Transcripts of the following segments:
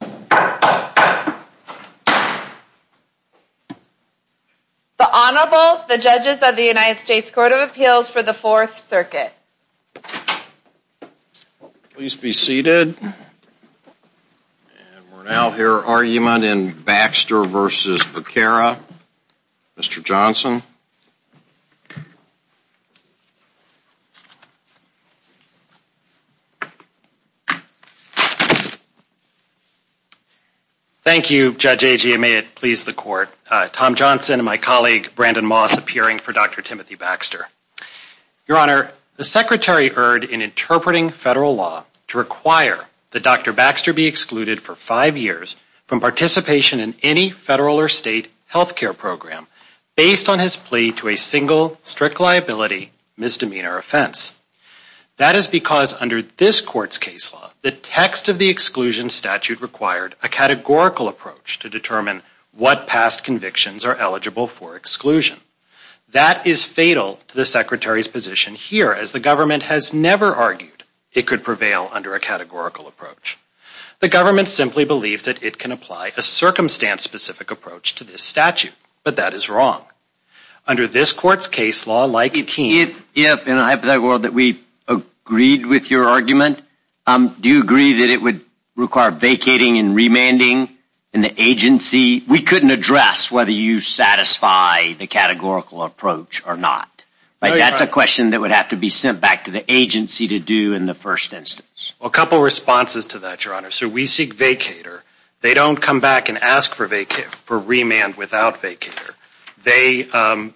The Honorable, the Judges of the United States Court of Appeals for the Fourth Circuit. Please be seated. And we'll now hear argument in Baxter v. Becerra. Mr. Johnson. Thank you, Judge Agee, and may it please the Court. Tom Johnson and my colleague, Brandon Moss, appearing for Dr. Timothy Baxter. Your Honor, the Secretary erred in interpreting federal law to require that Dr. Baxter be excluded for five years from participation in any federal or state health care program based on his plea to a single, strict liability misdemeanor offense. That is because under this Court's case law, the text of the exclusion statute required a categorical approach to determine what past convictions are eligible for exclusion. That is fatal to the Secretary's position here, as the government has never argued it could prevail under a categorical approach. The government simply believes that it can apply a circumstance-specific approach to this statute, but that is wrong. Under this Court's case law, like it can't... If, in a hypothetical world, that we agreed with your argument, do you agree that it would require vacating and remanding in the agency? We couldn't address whether you satisfy the categorical approach or not. That's a question that would have to be sent back to the agency to do in the first instance. Well, a couple of responses to that, Your Honor. So we seek vacater. They don't come back and ask for remand without vacater. They,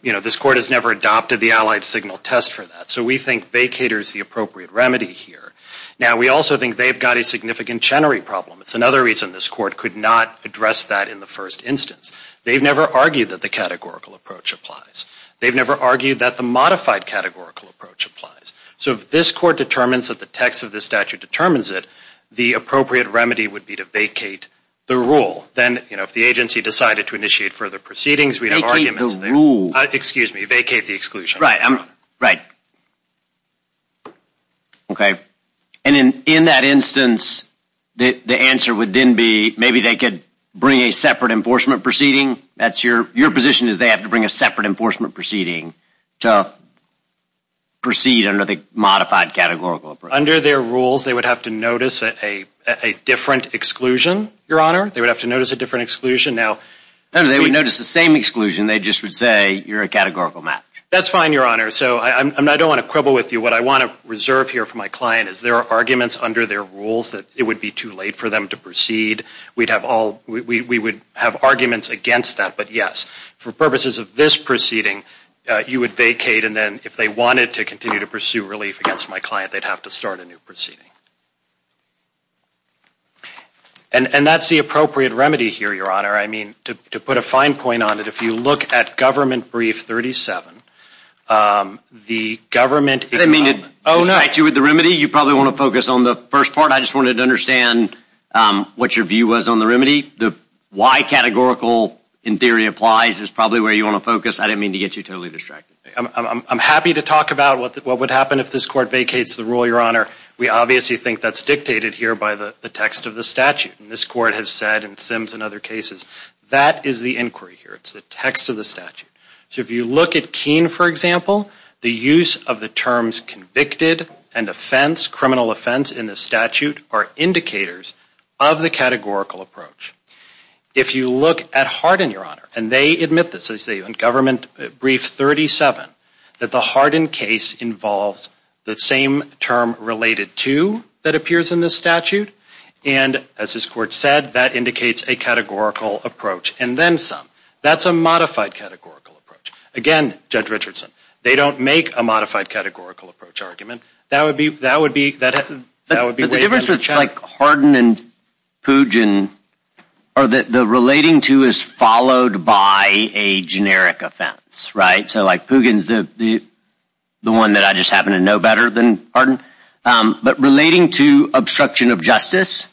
you know, this Court has never adopted the allied signal test for that, so we think vacater is the appropriate remedy here. Now, we also think they've got a significant Chenery problem. It's another reason this Court could not address that in the first instance. They've never argued that the categorical approach applies. They've never argued that the modified categorical approach applies. So if this Court determines that the text of this statute determines it, the appropriate remedy would be to vacate the rule. Then, you know, if the agency decided to initiate further proceedings, we'd have arguments... Vacate the rule. Excuse me, vacate the exclusion. Right, right. Okay. And in that instance, the answer would then be maybe they could bring a separate enforcement proceeding. That's your position is they have to bring a separate enforcement proceeding to proceed under the modified categorical approach. Under their rules, they would have to notice a different exclusion, Your Honor. They would have to notice a different exclusion. Now... They would notice the same exclusion. They just would say you're a categorical match. That's fine, Your Honor. So I don't want to quibble with you. What I want to reserve here for my client is there are arguments under their rules that it would be too late for them to proceed. We'd have all... We would have arguments against that. But yes, for purposes of this proceeding, you would vacate. And then if they wanted to continue to pursue relief against my client, they'd have to start a new proceeding. And that's the appropriate remedy here, Your Honor. I mean, to put a fine point on it, if you look at Government Brief 37, the government... I didn't mean to distract you with the remedy. You probably want to focus on the first part. I just wanted to understand what your view was on the remedy. The why categorical in theory applies is probably where you want to focus. I didn't mean to get you totally distracted. I'm happy to talk about what would happen if this Court vacates the rule, Your Honor. We obviously think that's dictated here by the text of the statute. And this Court has said in Sims and other cases, that is the inquiry here. It's the text of the statute. So if you look at Keene, for example, the use of the terms convicted and offense, criminal offense in the statute are indicators of the categorical approach. If you look at Hardin, Your Honor, and they admit this, as they say in Government Brief 37, that the Hardin case involves the same term related to that appears in this statute. And as this Court said, that indicates a categorical approach. And then some. That's a modified categorical approach. Again, Judge Richardson, they don't make a modified categorical approach argument. That would be... But the difference with Hardin and Pugin are that the relating to is followed by a generic offense, right? So like Pugin's the one that I just happen to know better than Hardin. But relating to obstruction of justice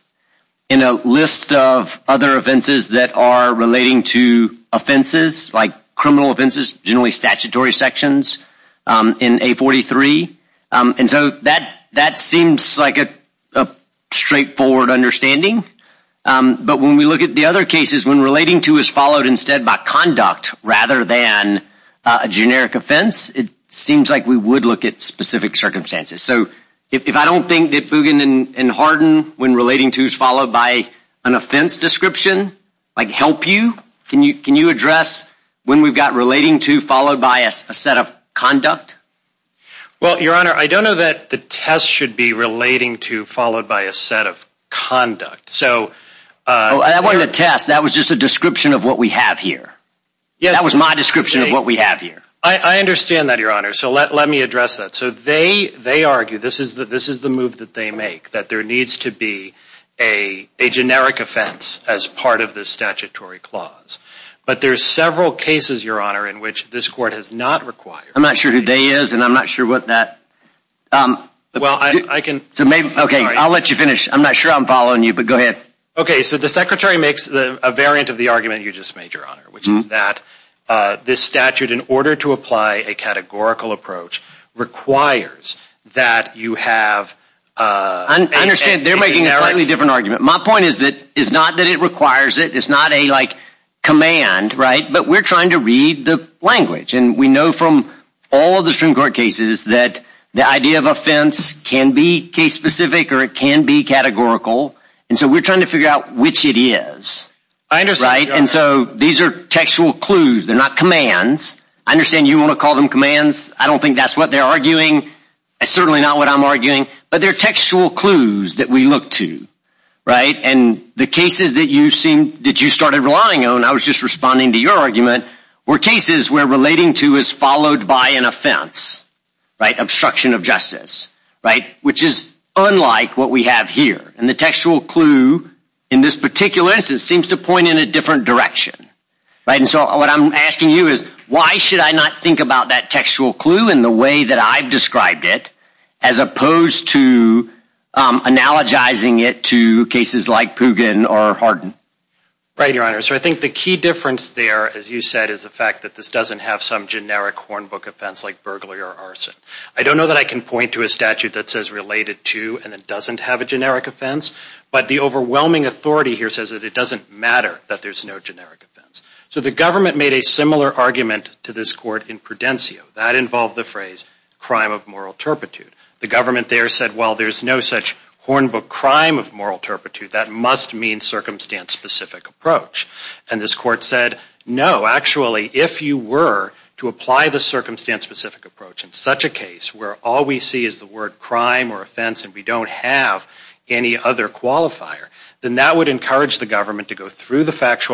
in a list of other offenses that are relating to offenses, like criminal offenses, generally statutory sections in 843. And so that seems like a straightforward understanding. But when we look at the other cases, when relating to is followed instead by conduct rather than a generic offense, it seems like we would look at specific circumstances. So if I don't think that Pugin and Hardin, when relating to is followed by an offense description, like help you? Can you address when we've got relating to followed by a set of conduct? Well, Your Honor, I don't know that the test should be relating to followed by a set of conduct. So... Oh, that wasn't a test. That was just a description of what we have here. That was my description of what we have here. I understand that, Your Honor. So let me address that. So they argue, this is the move that they make, that there needs to be a generic offense as part of this statutory clause. But there's several cases, Your Honor, in which this Court has not required... I'm not sure who Dey is, and I'm not sure what that... Well, I can... Okay, I'll let you finish. I'm not sure I'm following you, but go ahead. Okay, so the Secretary makes a variant of the argument you just made, Your Honor, which is that this statute, in order to apply a categorical approach, requires that you have... I understand they're making a slightly different argument. My point is that it's not that it requires it. It's not a command, right? But we're trying to read the language. And we know from all of the Supreme Court cases that the idea of offense can be case-specific or it can be categorical. And so we're trying to figure out which it is, right? And so these are textual clues. They're not commands. I understand you want to call them commands. I don't think that's what they're arguing. It's certainly not what I'm arguing. But they're textual clues that we look to, right? And the cases that you seem... that you started relying on, I was just responding to your argument, were cases where relating to is followed by an offense, right? Obstruction of justice, right? Which is unlike what we have here. And the textual clue in this particular instance seems to point in a different direction, right? And so what I'm asking you is, why should I not think about that textual clue in the way that I've described it, as opposed to analogizing it to cases like Pugin or Hardin? Right, Your Honor. So I think the key difference there, as you said, is the fact that this doesn't have some generic hornbook offense like burglary or arson. I don't know that I can point to a statute that says related to and it doesn't have a generic offense. But the overwhelming authority here says that it doesn't matter that there's no generic offense. So the government made a similar argument to this court in Prudencio. That involved the phrase, crime of moral turpitude. The government there said, well, there's no such hornbook crime of moral turpitude. That must mean circumstance-specific approach. And this court said, no, actually, if you were to apply the circumstance-specific approach in such a case where all we see is the word factual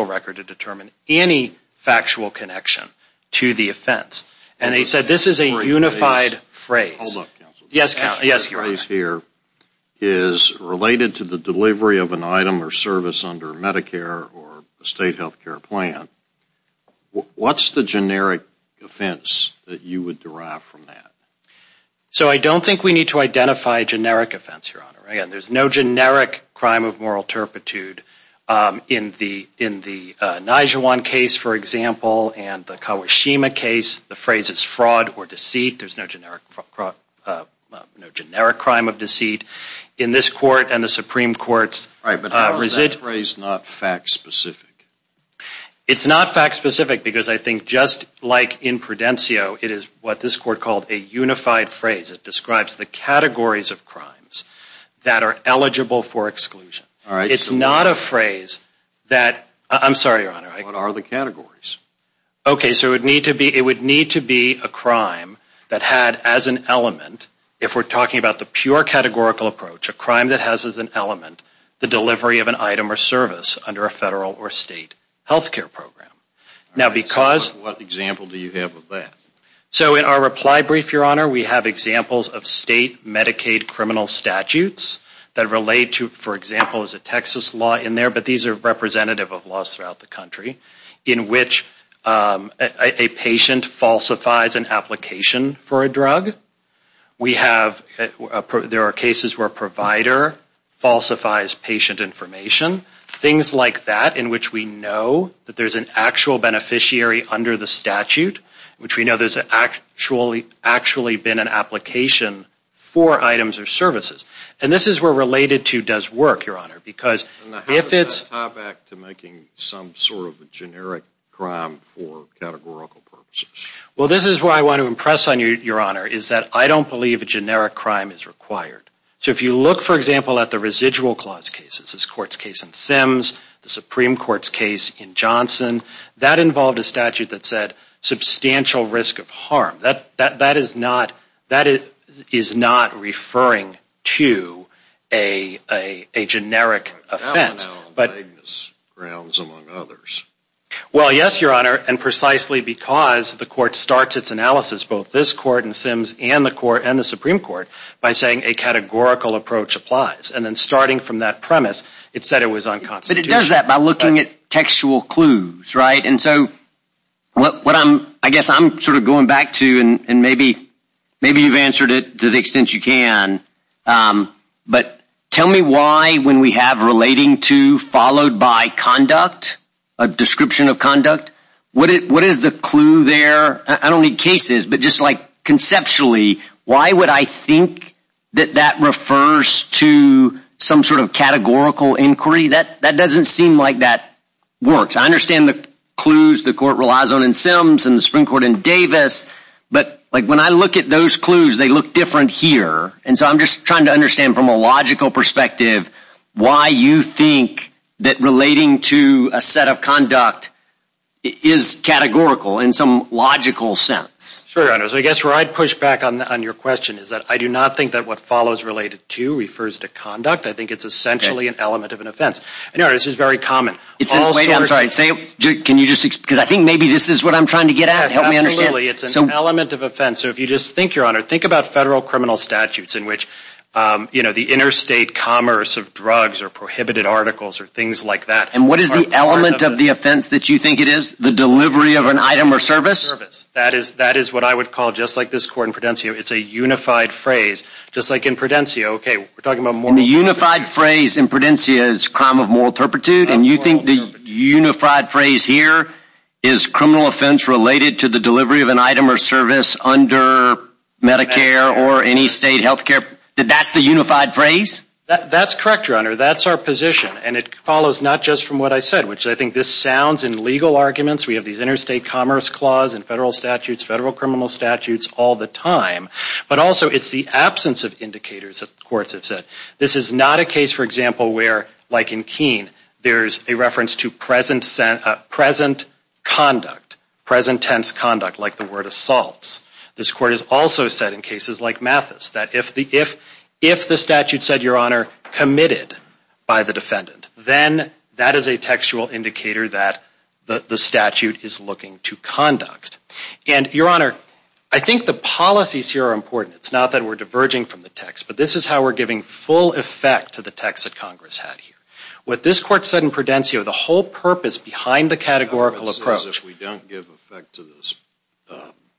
record to determine any factual connection to the offense. And they said this is a unified phrase. Hold up, counsel. Yes, Your Honor. This phrase here is related to the delivery of an item or service under Medicare or a state health care plan. What's the generic offense that you would derive from that? So I don't think we need to identify a generic offense, Your Honor. Again, there's no generic crime of moral turpitude. In the Nijewan case, for example, and the Kawashima case, the phrase is fraud or deceit. There's no generic crime of deceit. In this court and the Supreme Court's... Right, but how is that phrase not fact-specific? It's not fact-specific because I think just like in Prudencio, it is what this court called a unified phrase. It describes the categories of crimes that are eligible for exclusion. It's not a phrase that... I'm sorry, Your Honor. What are the categories? Okay, so it would need to be a crime that had as an element, if we're talking about the pure categorical approach, a crime that has as an element the delivery of an item or service under a federal or state health care program. Now because... What example do you have of that? So in our reply brief, Your Honor, we have examples of state Medicaid criminal statutes that relate to, for example, there's a Texas law in there, but these are representative of laws throughout the country, in which a patient falsifies an application for a drug. We have... There are cases where a provider falsifies patient information. Things like that in which we know that there's an actual beneficiary under the statute, in which we know there's actually been an application for items or services. And this is where related to does work, Your Honor, because if it's... How does that tie back to making some sort of a generic crime for categorical purposes? Well, this is where I want to impress on you, Your Honor, is that I don't believe a generic crime is required. So if you look, for example, at the residual clause cases, this court's case in Sims, the Supreme Court's case in Johnson, that involved a statute that said substantial risk of harm. That is not... That is not referring to a generic offense, but... But that one, on vagueness grounds, among others. Well, yes, Your Honor, and precisely because the court starts its analysis, both this court in Sims and the Supreme Court, by saying a categorical approach applies. And then starting from that premise, it said it was unconstitutional. But it does that by looking at textual clues, right? And so what I'm... I guess I'm sort of going back to, and maybe you've answered it to the extent you can, but tell me why, when we have relating to followed by conduct, a description of conduct, what is the clue there? I don't need cases, but just like conceptually, why would I think that that refers to some sort of categorical inquiry? That doesn't seem like that works. I understand the clues the court relies on in Sims and the Supreme Court in Davis, but like when I look at those clues, they look different here. And so I'm just trying to understand from a logical perspective, why you think that relating to a set of conduct is categorical in some logical sense? Sure, Your Honor. So I guess where I'd push back on your question is that I do not think that what follows related to refers to conduct. I think it's essentially an element of an offense. And Your Honor, this is very common. It's a... Wait, I'm sorry. Can you just... Because I think maybe this is what I'm trying to get at. Help me understand. Absolutely. It's an element of offense. So if you just think, Your Honor, think about federal criminal statutes in which, you know, the interstate commerce of drugs or prohibited articles or things like that... And what is the element of the offense that you think it is? The delivery of an item or service? That is what I would call, just like this court in Prudencia, it's a unified phrase. Just like in Prudencia, okay, we're talking about moral... And the unified phrase in Prudencia is crime of moral turpitude and you think the unified phrase here is criminal offense related to the delivery of an item or service under Medicare or any state healthcare... That's the unified phrase? That's correct, Your Honor. That's our position. And it follows not just from what I said, which I think this sounds in legal arguments, we have these interstate commerce clause in federal statutes, federal criminal statutes all the time, but also it's the absence of indicators that courts have said. This is not a case, for example, where, like in Keene, there's a reference to present conduct, present tense conduct, like the word assaults. This court has also said in cases like Mathis that if the statute said, Your Honor, committed by the defendant, then that is a textual indicator that the statute is looking to conduct. And, Your Honor, I think the policies here are important. It's not that we're diverging from the text, but this is how we're giving full effect to the text that Congress had here. What this court said in Prudencia, the whole purpose behind the categorical approach... If we don't give effect to this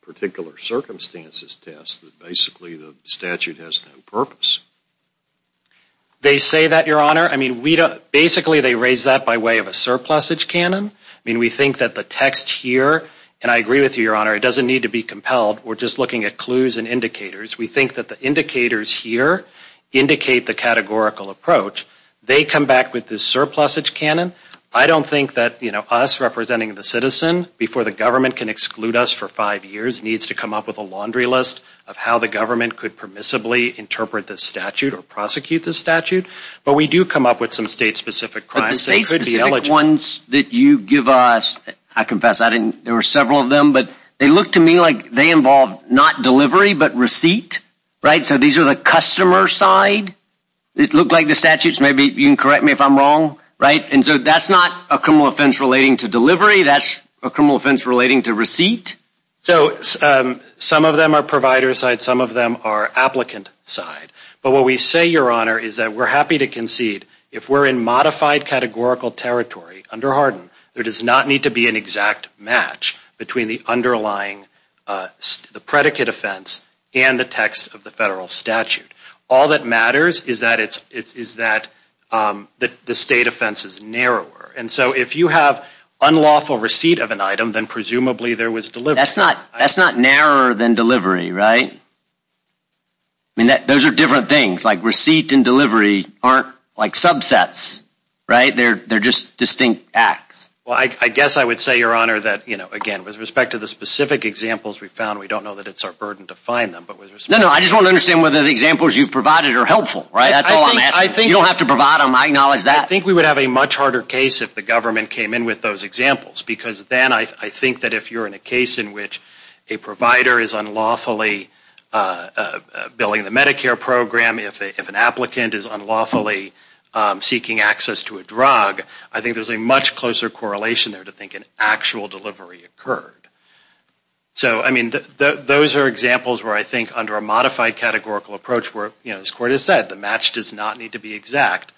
particular circumstances test, then basically the statute has no purpose. They say that, Your Honor, basically they raise that by way of a surplusage canon. We think that the text here, and I agree with you, Your Honor, it doesn't need to be compelled. We're just looking at clues and indicators. We think that the indicators here indicate the categorical approach. They come back with this surplusage canon. I don't think that us representing the citizen before the government can exclude us for five years needs to come up with a laundry list of how the government could permissibly interpret this statute or prosecute this statute. But we do come up with some state-specific crimes that could be eligible. But the state-specific ones that you give us, I confess there were several of them, but they look to me like they involve not delivery, but receipt, right? So these are the customer side. It looked like the statutes, maybe you can correct me if I'm wrong, right? And so that's not a criminal offense relating to delivery. That's a criminal offense relating to receipt? So some of them are provider side, some of them are applicant side. But what we say, Your Honor, is that we're happy to concede if we're in modified categorical territory under Hardin, there does not need to be an exact match between the underlying predicate offense and the text of the federal statute. All that matters is that the state offense is narrower. And so if you have unlawful receipt of an item, then presumably there was delivery. That's not narrower than delivery, right? I mean, those are different things. Like receipt and delivery aren't like subsets, right? They're just distinct acts. Well, I guess I would say, Your Honor, that, you know, again, with respect to the specific examples we found, we don't know that it's our burden to find them. No, no, I just want to understand whether the examples you've provided are helpful, right? That's all I'm asking. You don't have to provide them. I acknowledge that. I think we would have a much harder case if the government came in with those examples. Because then I think that if you're in a case in which a provider is unlawfully billing the Medicare program, if an applicant is unlawfully seeking access to a drug, I think there's a much closer correlation there to think an actual delivery occurred. So, I mean, those are examples where I think under a modified categorical approach where, you know, as Court does not need to be exact,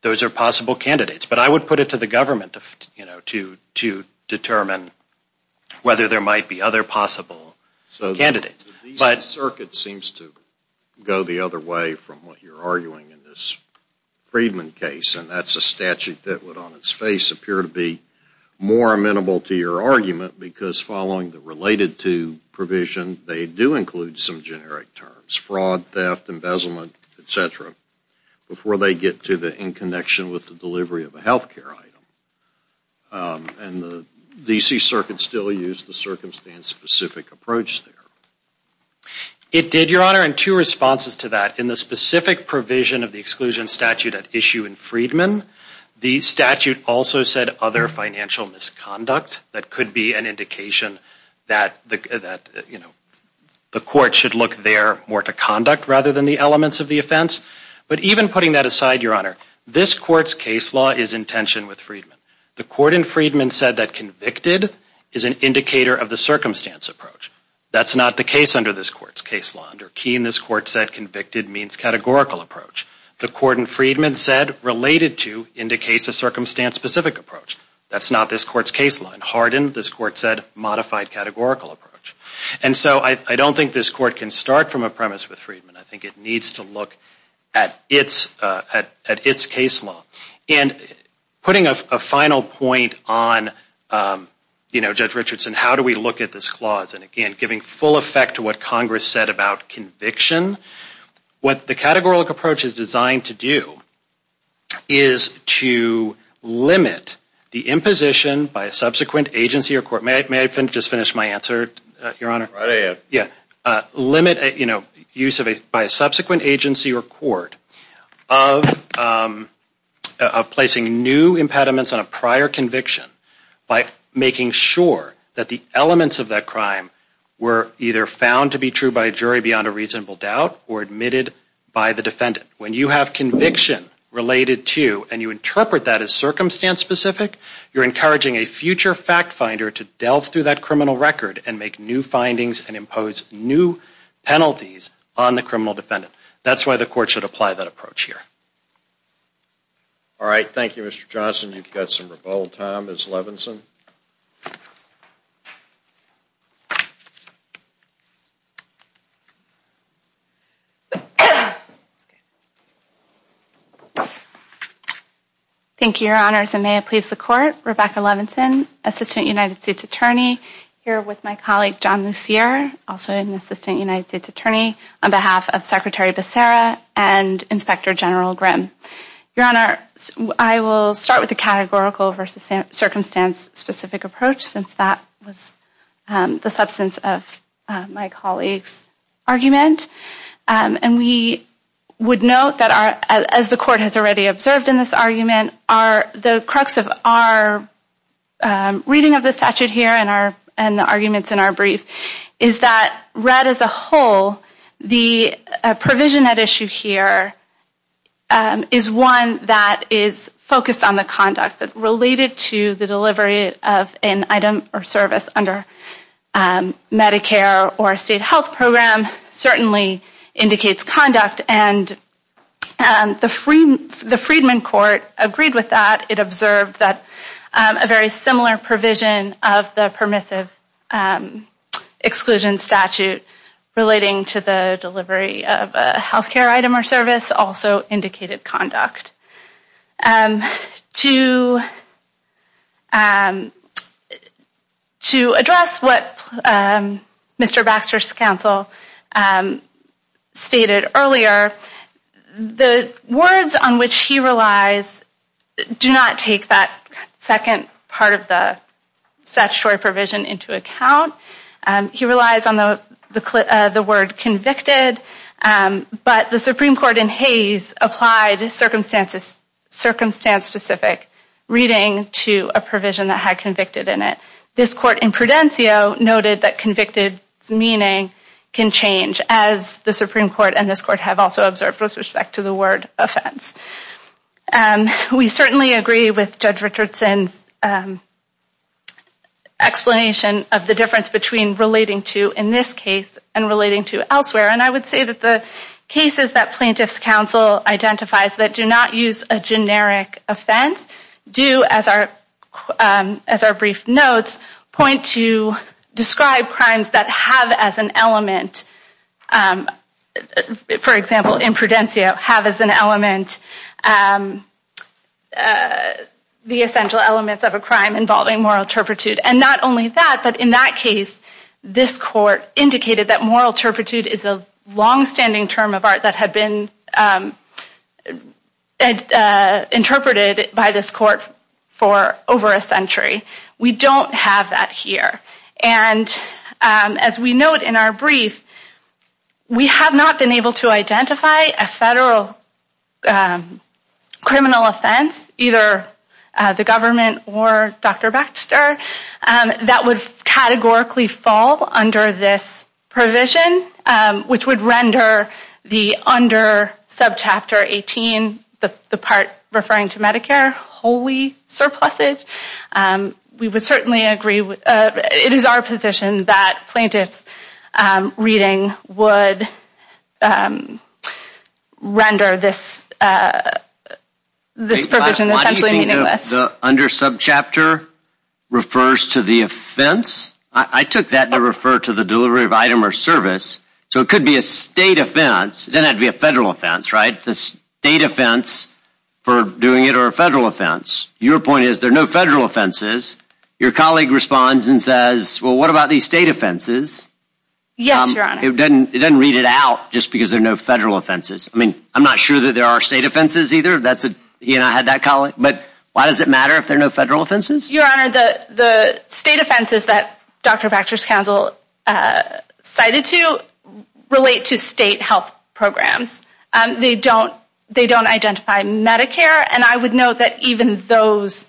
those are possible candidates. But I would put it to the government, you know, to determine whether there might be other possible candidates. So these circuits seem to go the other way from what you're arguing in this Friedman case. And that's a statute that would on its face appear to be more amenable to your argument because following the related to provision, they do include some generic terms. Fraud, theft, embezzlement, et cetera, before they get to the in connection with the delivery of a health care item. And the D.C. Circuit still used the circumstance specific approach there. It did, Your Honor, and two responses to that. In the specific provision of the exclusion statute at issue in Friedman, the statute also said other financial misconduct. That could be an indication that, you know, the court should look there more to conduct rather than the elements of the offense. But even putting that aside, Your Honor, this Court's case law is in tension with Friedman. The court in Friedman said that convicted is an indicator of the circumstance approach. That's not the case under this Court's case law. Under Keene, this Court said convicted means categorical approach. The court in Friedman said related to indicates a circumstance specific approach. That's not this Court's case law. In Hardin, this Court said modified categorical approach. And so I don't think this Court can start from a premise with Friedman. I think it needs to look at its case law. And putting a final point on, you know, Judge Richardson, how do we look at this clause? And again, giving full effect to what Congress said about conviction, what the categorical approach is designed to do is to limit the use by a subsequent agency or court of placing new impediments on a prior conviction by making sure that the elements of that crime were either found to be true by a jury beyond a reasonable doubt or admitted by the defendant. When you have conviction related to and you interpret that as circumstance specific, you're encouraging a future fact finder to delve through that criminal record and make new findings and impose new penalties on the criminal defendant. That's why the Court should apply that approach here. All right. Thank you, Mr. Johnson. You've got some rebuttal time. Ms. Levinson. Thank you, Your Honors. And may it please the Court, Rebecca Levinson, Assistant United States Attorney, here with my colleague John Lucere, also an Assistant United States Attorney, on behalf of Secretary Becerra and Inspector General Grimm. Your Honor, I will start with the categorical versus circumstance specific approach, since that was the substance of my colleague's argument. And we would note that, as the Court has already observed in this argument, the crux of our reading of the statute here and the arguments in our brief is that read as a whole, the provision at issue here is one that is focused on the conduct related to the delivery of an item or service under Medicare or a state health program certainly indicates conduct. And the Freedman Court agreed with that. It observed that a very similar provision of the permissive exclusion statute relating to the delivery of a health care item or service also indicated conduct. To address what Mr. Baxter's counsel stated earlier, the words on which he relies do not take that second part of the statutory provision into account. He relies on the word convicted, but the Supreme Court in Hays applied circumstance specific reading to a provision that had convicted in it. This Court in Prudencio noted that convicted's meaning can change, as the Supreme Court and this Court have also observed with respect to the word offense. We certainly agree with Judge Richardson's explanation of the difference between relating to in this case and relating to elsewhere. And I would say that the cases that plaintiff's counsel identifies that do not use a generic offense do, as our brief notes, point to described crimes that have as an element, for example in Prudencio, have as an element the essential elements of a crime involving moral turpitude and not only that, but in that case, this Court indicated that moral turpitude is a long-standing term of art that had been interpreted by this Court for over a century. We don't have that here. And as we note in our brief, we have not been able to identify a federal criminal offense, either the government or Dr. Baxter, that would categorically fall under this provision, which would render the under subchapter 18, the part referring to Medicare, wholly surplussed. We would certainly agree, it is our position that plaintiff's reading would render this provision essentially meaningless. Why do you think the under subchapter refers to the offense? I took that to refer to the delivery of item or service, so it could be a state offense, then it would be a federal offense, right? The state offense for doing it or a federal offense. Your point is there are no federal offenses. Your colleague responds and says, well, what about these state offenses? Yes, Your Honor. It doesn't read it out just because there are no federal offenses. I mean, I'm not sure that there are state offenses either. He and I had that colleague. But why does it matter if there are no federal offenses? Your Honor, the state offenses that Dr. Baxter's counsel cited to relate to state health programs. They don't identify Medicare, and I would note that even those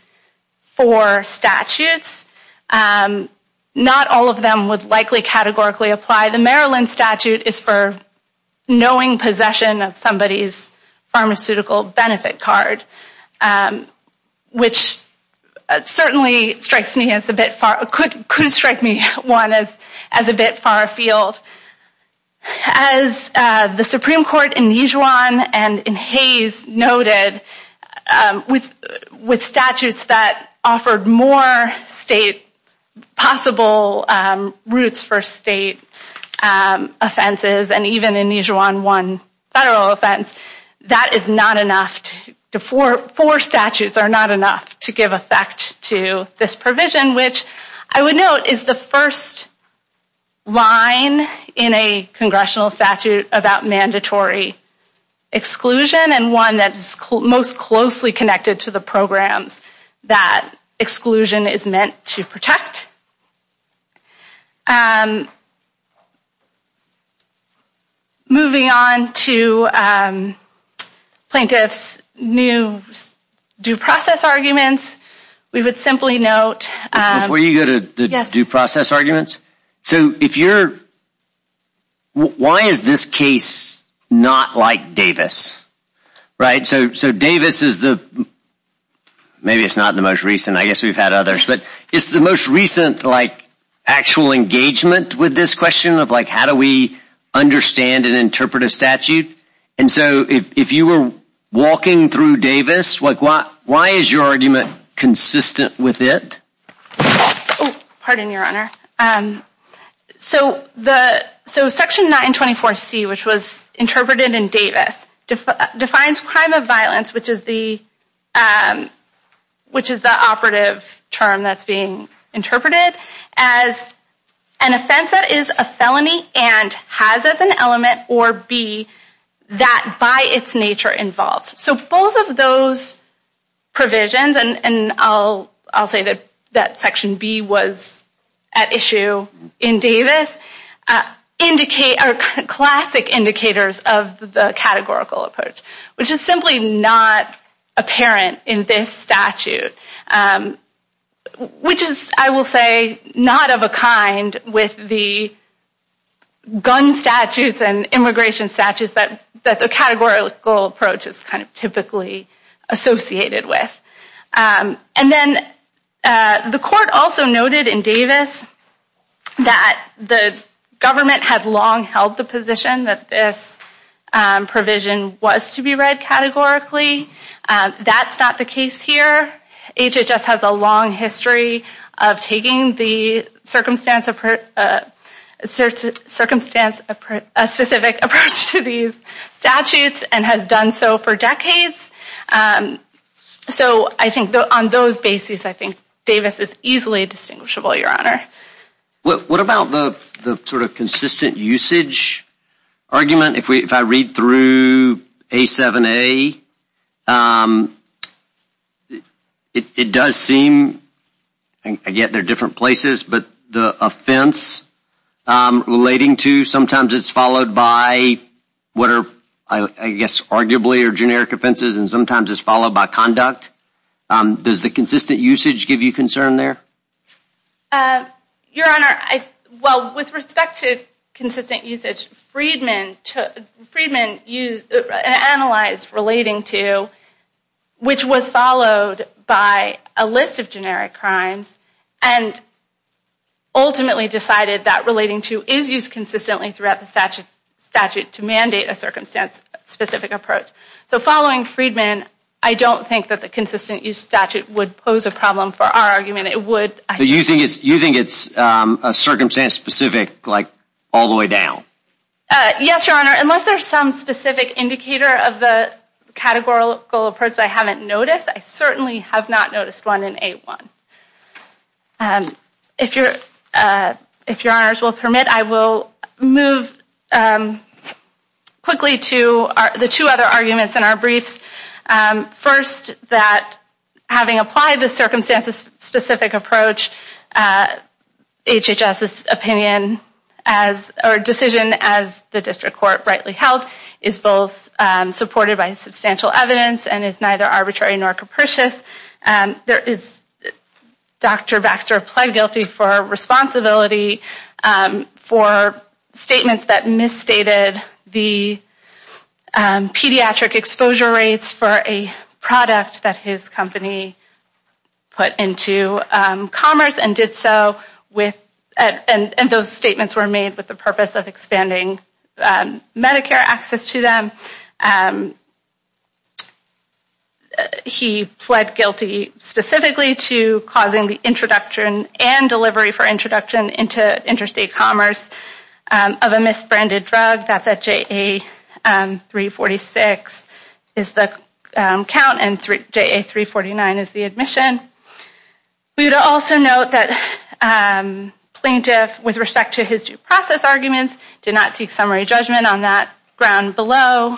four statutes, not all of them would likely categorically apply. The Maryland statute is for knowing possession of somebody's pharmaceutical benefit card, which certainly could strike me as a bit far afield. As the Supreme Court in Nijuan and in Hays noted, with statutes that offered more state possible routes for state offenses, and even in Nijuan one federal offense, that is not enough. Four statutes are not enough to give effect to this provision, which I would note is the first line in a congressional statute about mandatory exclusion, and one that is most closely connected to the programs that exclusion is meant to protect. Moving on to plaintiff's new due process arguments, we would simply note... Before you go to the due process arguments, so if you're... Why is this case not like Davis? So Davis is the... Maybe it's not the most recent, I guess we've had others, but it's the most recent actual engagement with this question of how do we understand and interpret a statute? And so if you were walking through Davis, why is your argument consistent with it? Oh, pardon your honor. So section 924C, which was interpreted in Davis, defines crime of violence, which is the operative term that's being interpreted, as an offense that is a felony and has as an element or be that by its nature involves. So both of those provisions and I'll say that section B was at issue in Davis, indicate... Are classic indicators of the categorical approach, which is simply not apparent in this statute, which is, I will say, not of a kind with the gun statutes and immigration statutes that the categorical approach is kind of typically associated with. And then the court also noted in Davis that the government had long held the position that this provision was to be read categorically. That's not the case here. HHS has a long history of taking the circumstance... A specific approach to these statutes and has done so for decades. So I think on those bases, I think Davis is easily distinguishable, your honor. What about the sort of consistent usage argument? If I read through A7A, it does seem... Again, they're different places, but the offense relating to sometimes it's followed by what are, I guess, arguably are generic offenses and sometimes it's followed by conduct. Does the consistent usage give you concern there? Your honor, well, with respect to consistent usage, Freedman analyzed relating to, which was followed by a list of generic crimes and ultimately decided that relating to is used consistently throughout the statute to mandate a circumstance specific approach. So following Freedman, I don't think that the consistent use statute would pose a problem for our argument. It would... So you think it's a circumstance specific, like all the way down? Yes, your honor. Unless there's some specific indicator of the categorical approach I haven't noticed, I certainly have not noticed one in A1. If your honors will permit, I will move quickly to the two other arguments in our briefs. First, that having applied the circumstances specific approach, HHS's opinion or decision as the district court rightly held is both supported by substantial evidence and is neither arbitrary nor capricious. There is... Dr. Baxter applied guilty for responsibility for statements that misstated the pediatric exposure rates for a product that his company put into commerce and did so with... And those statements were made with the purpose of expanding Medicare access to them. He pled guilty specifically to causing the introduction and delivery for introduction into interstate commerce of a misbranded drug. That's at JA346 is the count and JA349 is the admission. We would also note that plaintiff, with respect to his due process arguments, did not seek summary judgment on that ground below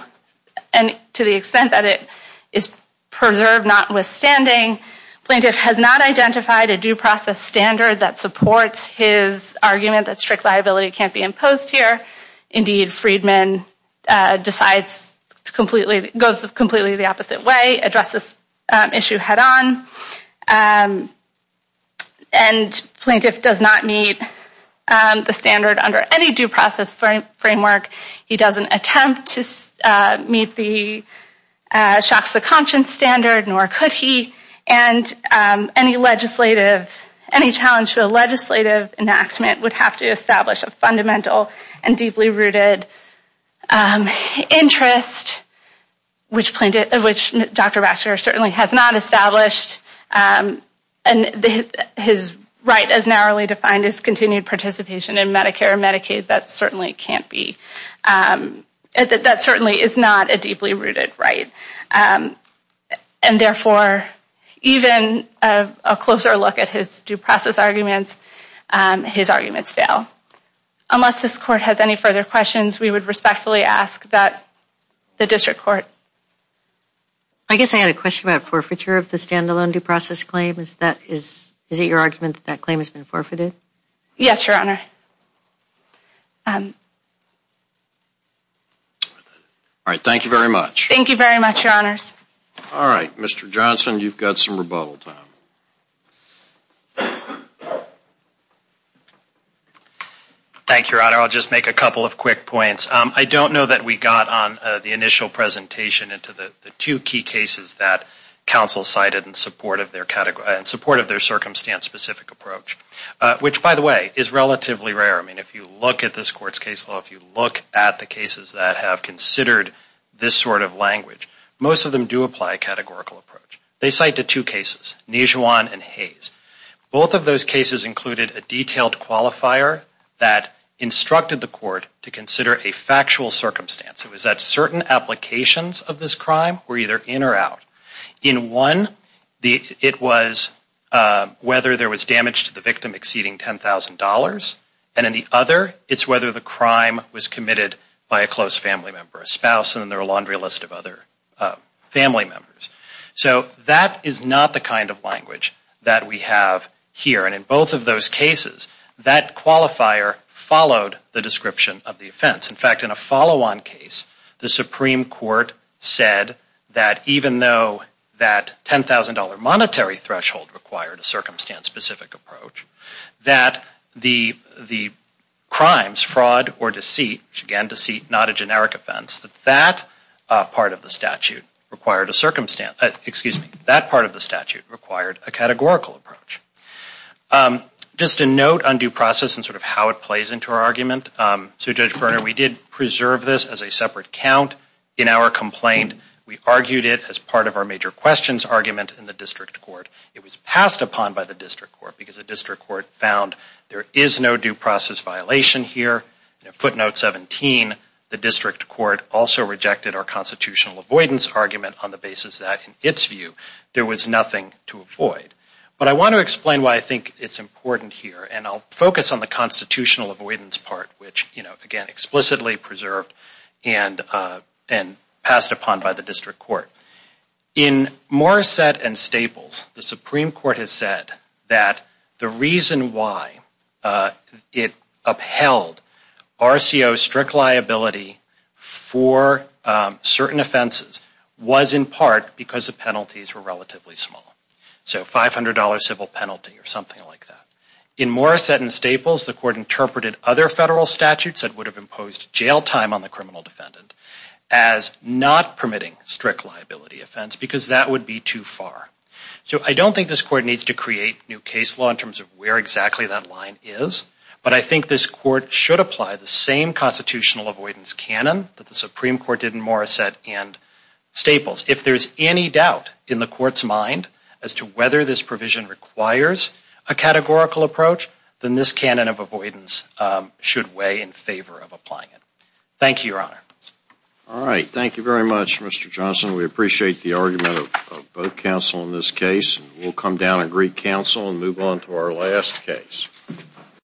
and to the extent that it is preserved notwithstanding, plaintiff has not identified a due process standard that supports his argument that strict liability can't be imposed here. Indeed, Friedman decides to completely... Goes completely the opposite way, addresses issue head on, and plaintiff does not meet the standard under any due process framework. He doesn't attempt to meet the shocks to conscience standard, nor could he, and any legislative, any challenge to a legislative enactment would have to establish a fundamental and deeply rooted interest, which Dr. Baxter certainly has not established, and his right as narrowly defined as continued participation in Medicare and Medicaid, that certainly can't be... That certainly is not a deeply rooted right. And therefore, even a closer look at his due process arguments, his arguments fail. Unless this court has any further questions, we would respectfully ask that the district court... I guess I had a question about forfeiture of the stand-alone due process claim. Is that... Is it your argument that that claim has been forfeited? Yes, Your Honor. All right, thank you very much. Thank you very much, Your Honors. All right, Mr. Johnson, you've got some rebuttal time. Thank you, Your Honor. I'll just make a couple of quick points. I don't know that we got on the initial presentation into the two key cases that counsel cited in support of their circumstance-specific approach, which, by the way, is relatively rare. I mean, if you look at this court's case law, if you look at the cases that have considered this sort of language, most of them do apply a categorical approach. They cite the two cases, Nijhuan and Hayes. Both of those cases included a detailed qualifier that instructed the court to consider a factual circumstance. It was that certain applications of this crime were either in or out. In one, it was whether there was damage to the victim exceeding $10,000. And in the other, it's whether the crime was committed by a close family member, a spouse, and then there were a laundry list of other family members. So that is not the kind of language that we have here. And in both of those cases, that qualifier followed the description of the offense. In fact, in a follow-on case, the Supreme Court said that even though that $10,000 monetary threshold required a circumstance-specific approach, that the crimes, fraud or deceit, not a generic offense, that that part of the statute required a categorical approach. Just a note on due process and sort of how it plays into our argument. So Judge Berner, we did preserve this as a separate count in our complaint. We argued it as part of our major questions argument in the district court. It was passed upon by the district court because the district court found there is no due process violation here. Footnote 17, the district court also rejected our constitutional avoidance argument on the basis that, in its view, there was nothing to avoid. But I want to explain why I think it's important here, and I'll focus on the constitutional avoidance part, which, again, explicitly preserved and passed upon by the district court. In Morrissette and Staples, the Supreme Court has said that the reason why it upheld RCO strict liability for certain offenses was, in part, because the penalties were relatively small. So $500 civil penalty or something like that. In Morrissette and Staples, the court interpreted other federal statutes that would have imposed jail time on the criminal defendant as not permitting strict liability offense because that would be too far. So I don't think this court needs to create new case law in terms of where exactly that line is, but I think this court should apply the same constitutional avoidance canon that the Supreme Court did in Morrissette and Staples. If there's any doubt in the court's mind as to whether this provision requires a categorical approach, then this canon of avoidance should weigh in favor of applying it. Thank you, Your Honor. All right. Thank you very much, Mr. Johnson. We appreciate the argument of both counsel in this case. We'll come down and greet counsel and move on to our last case.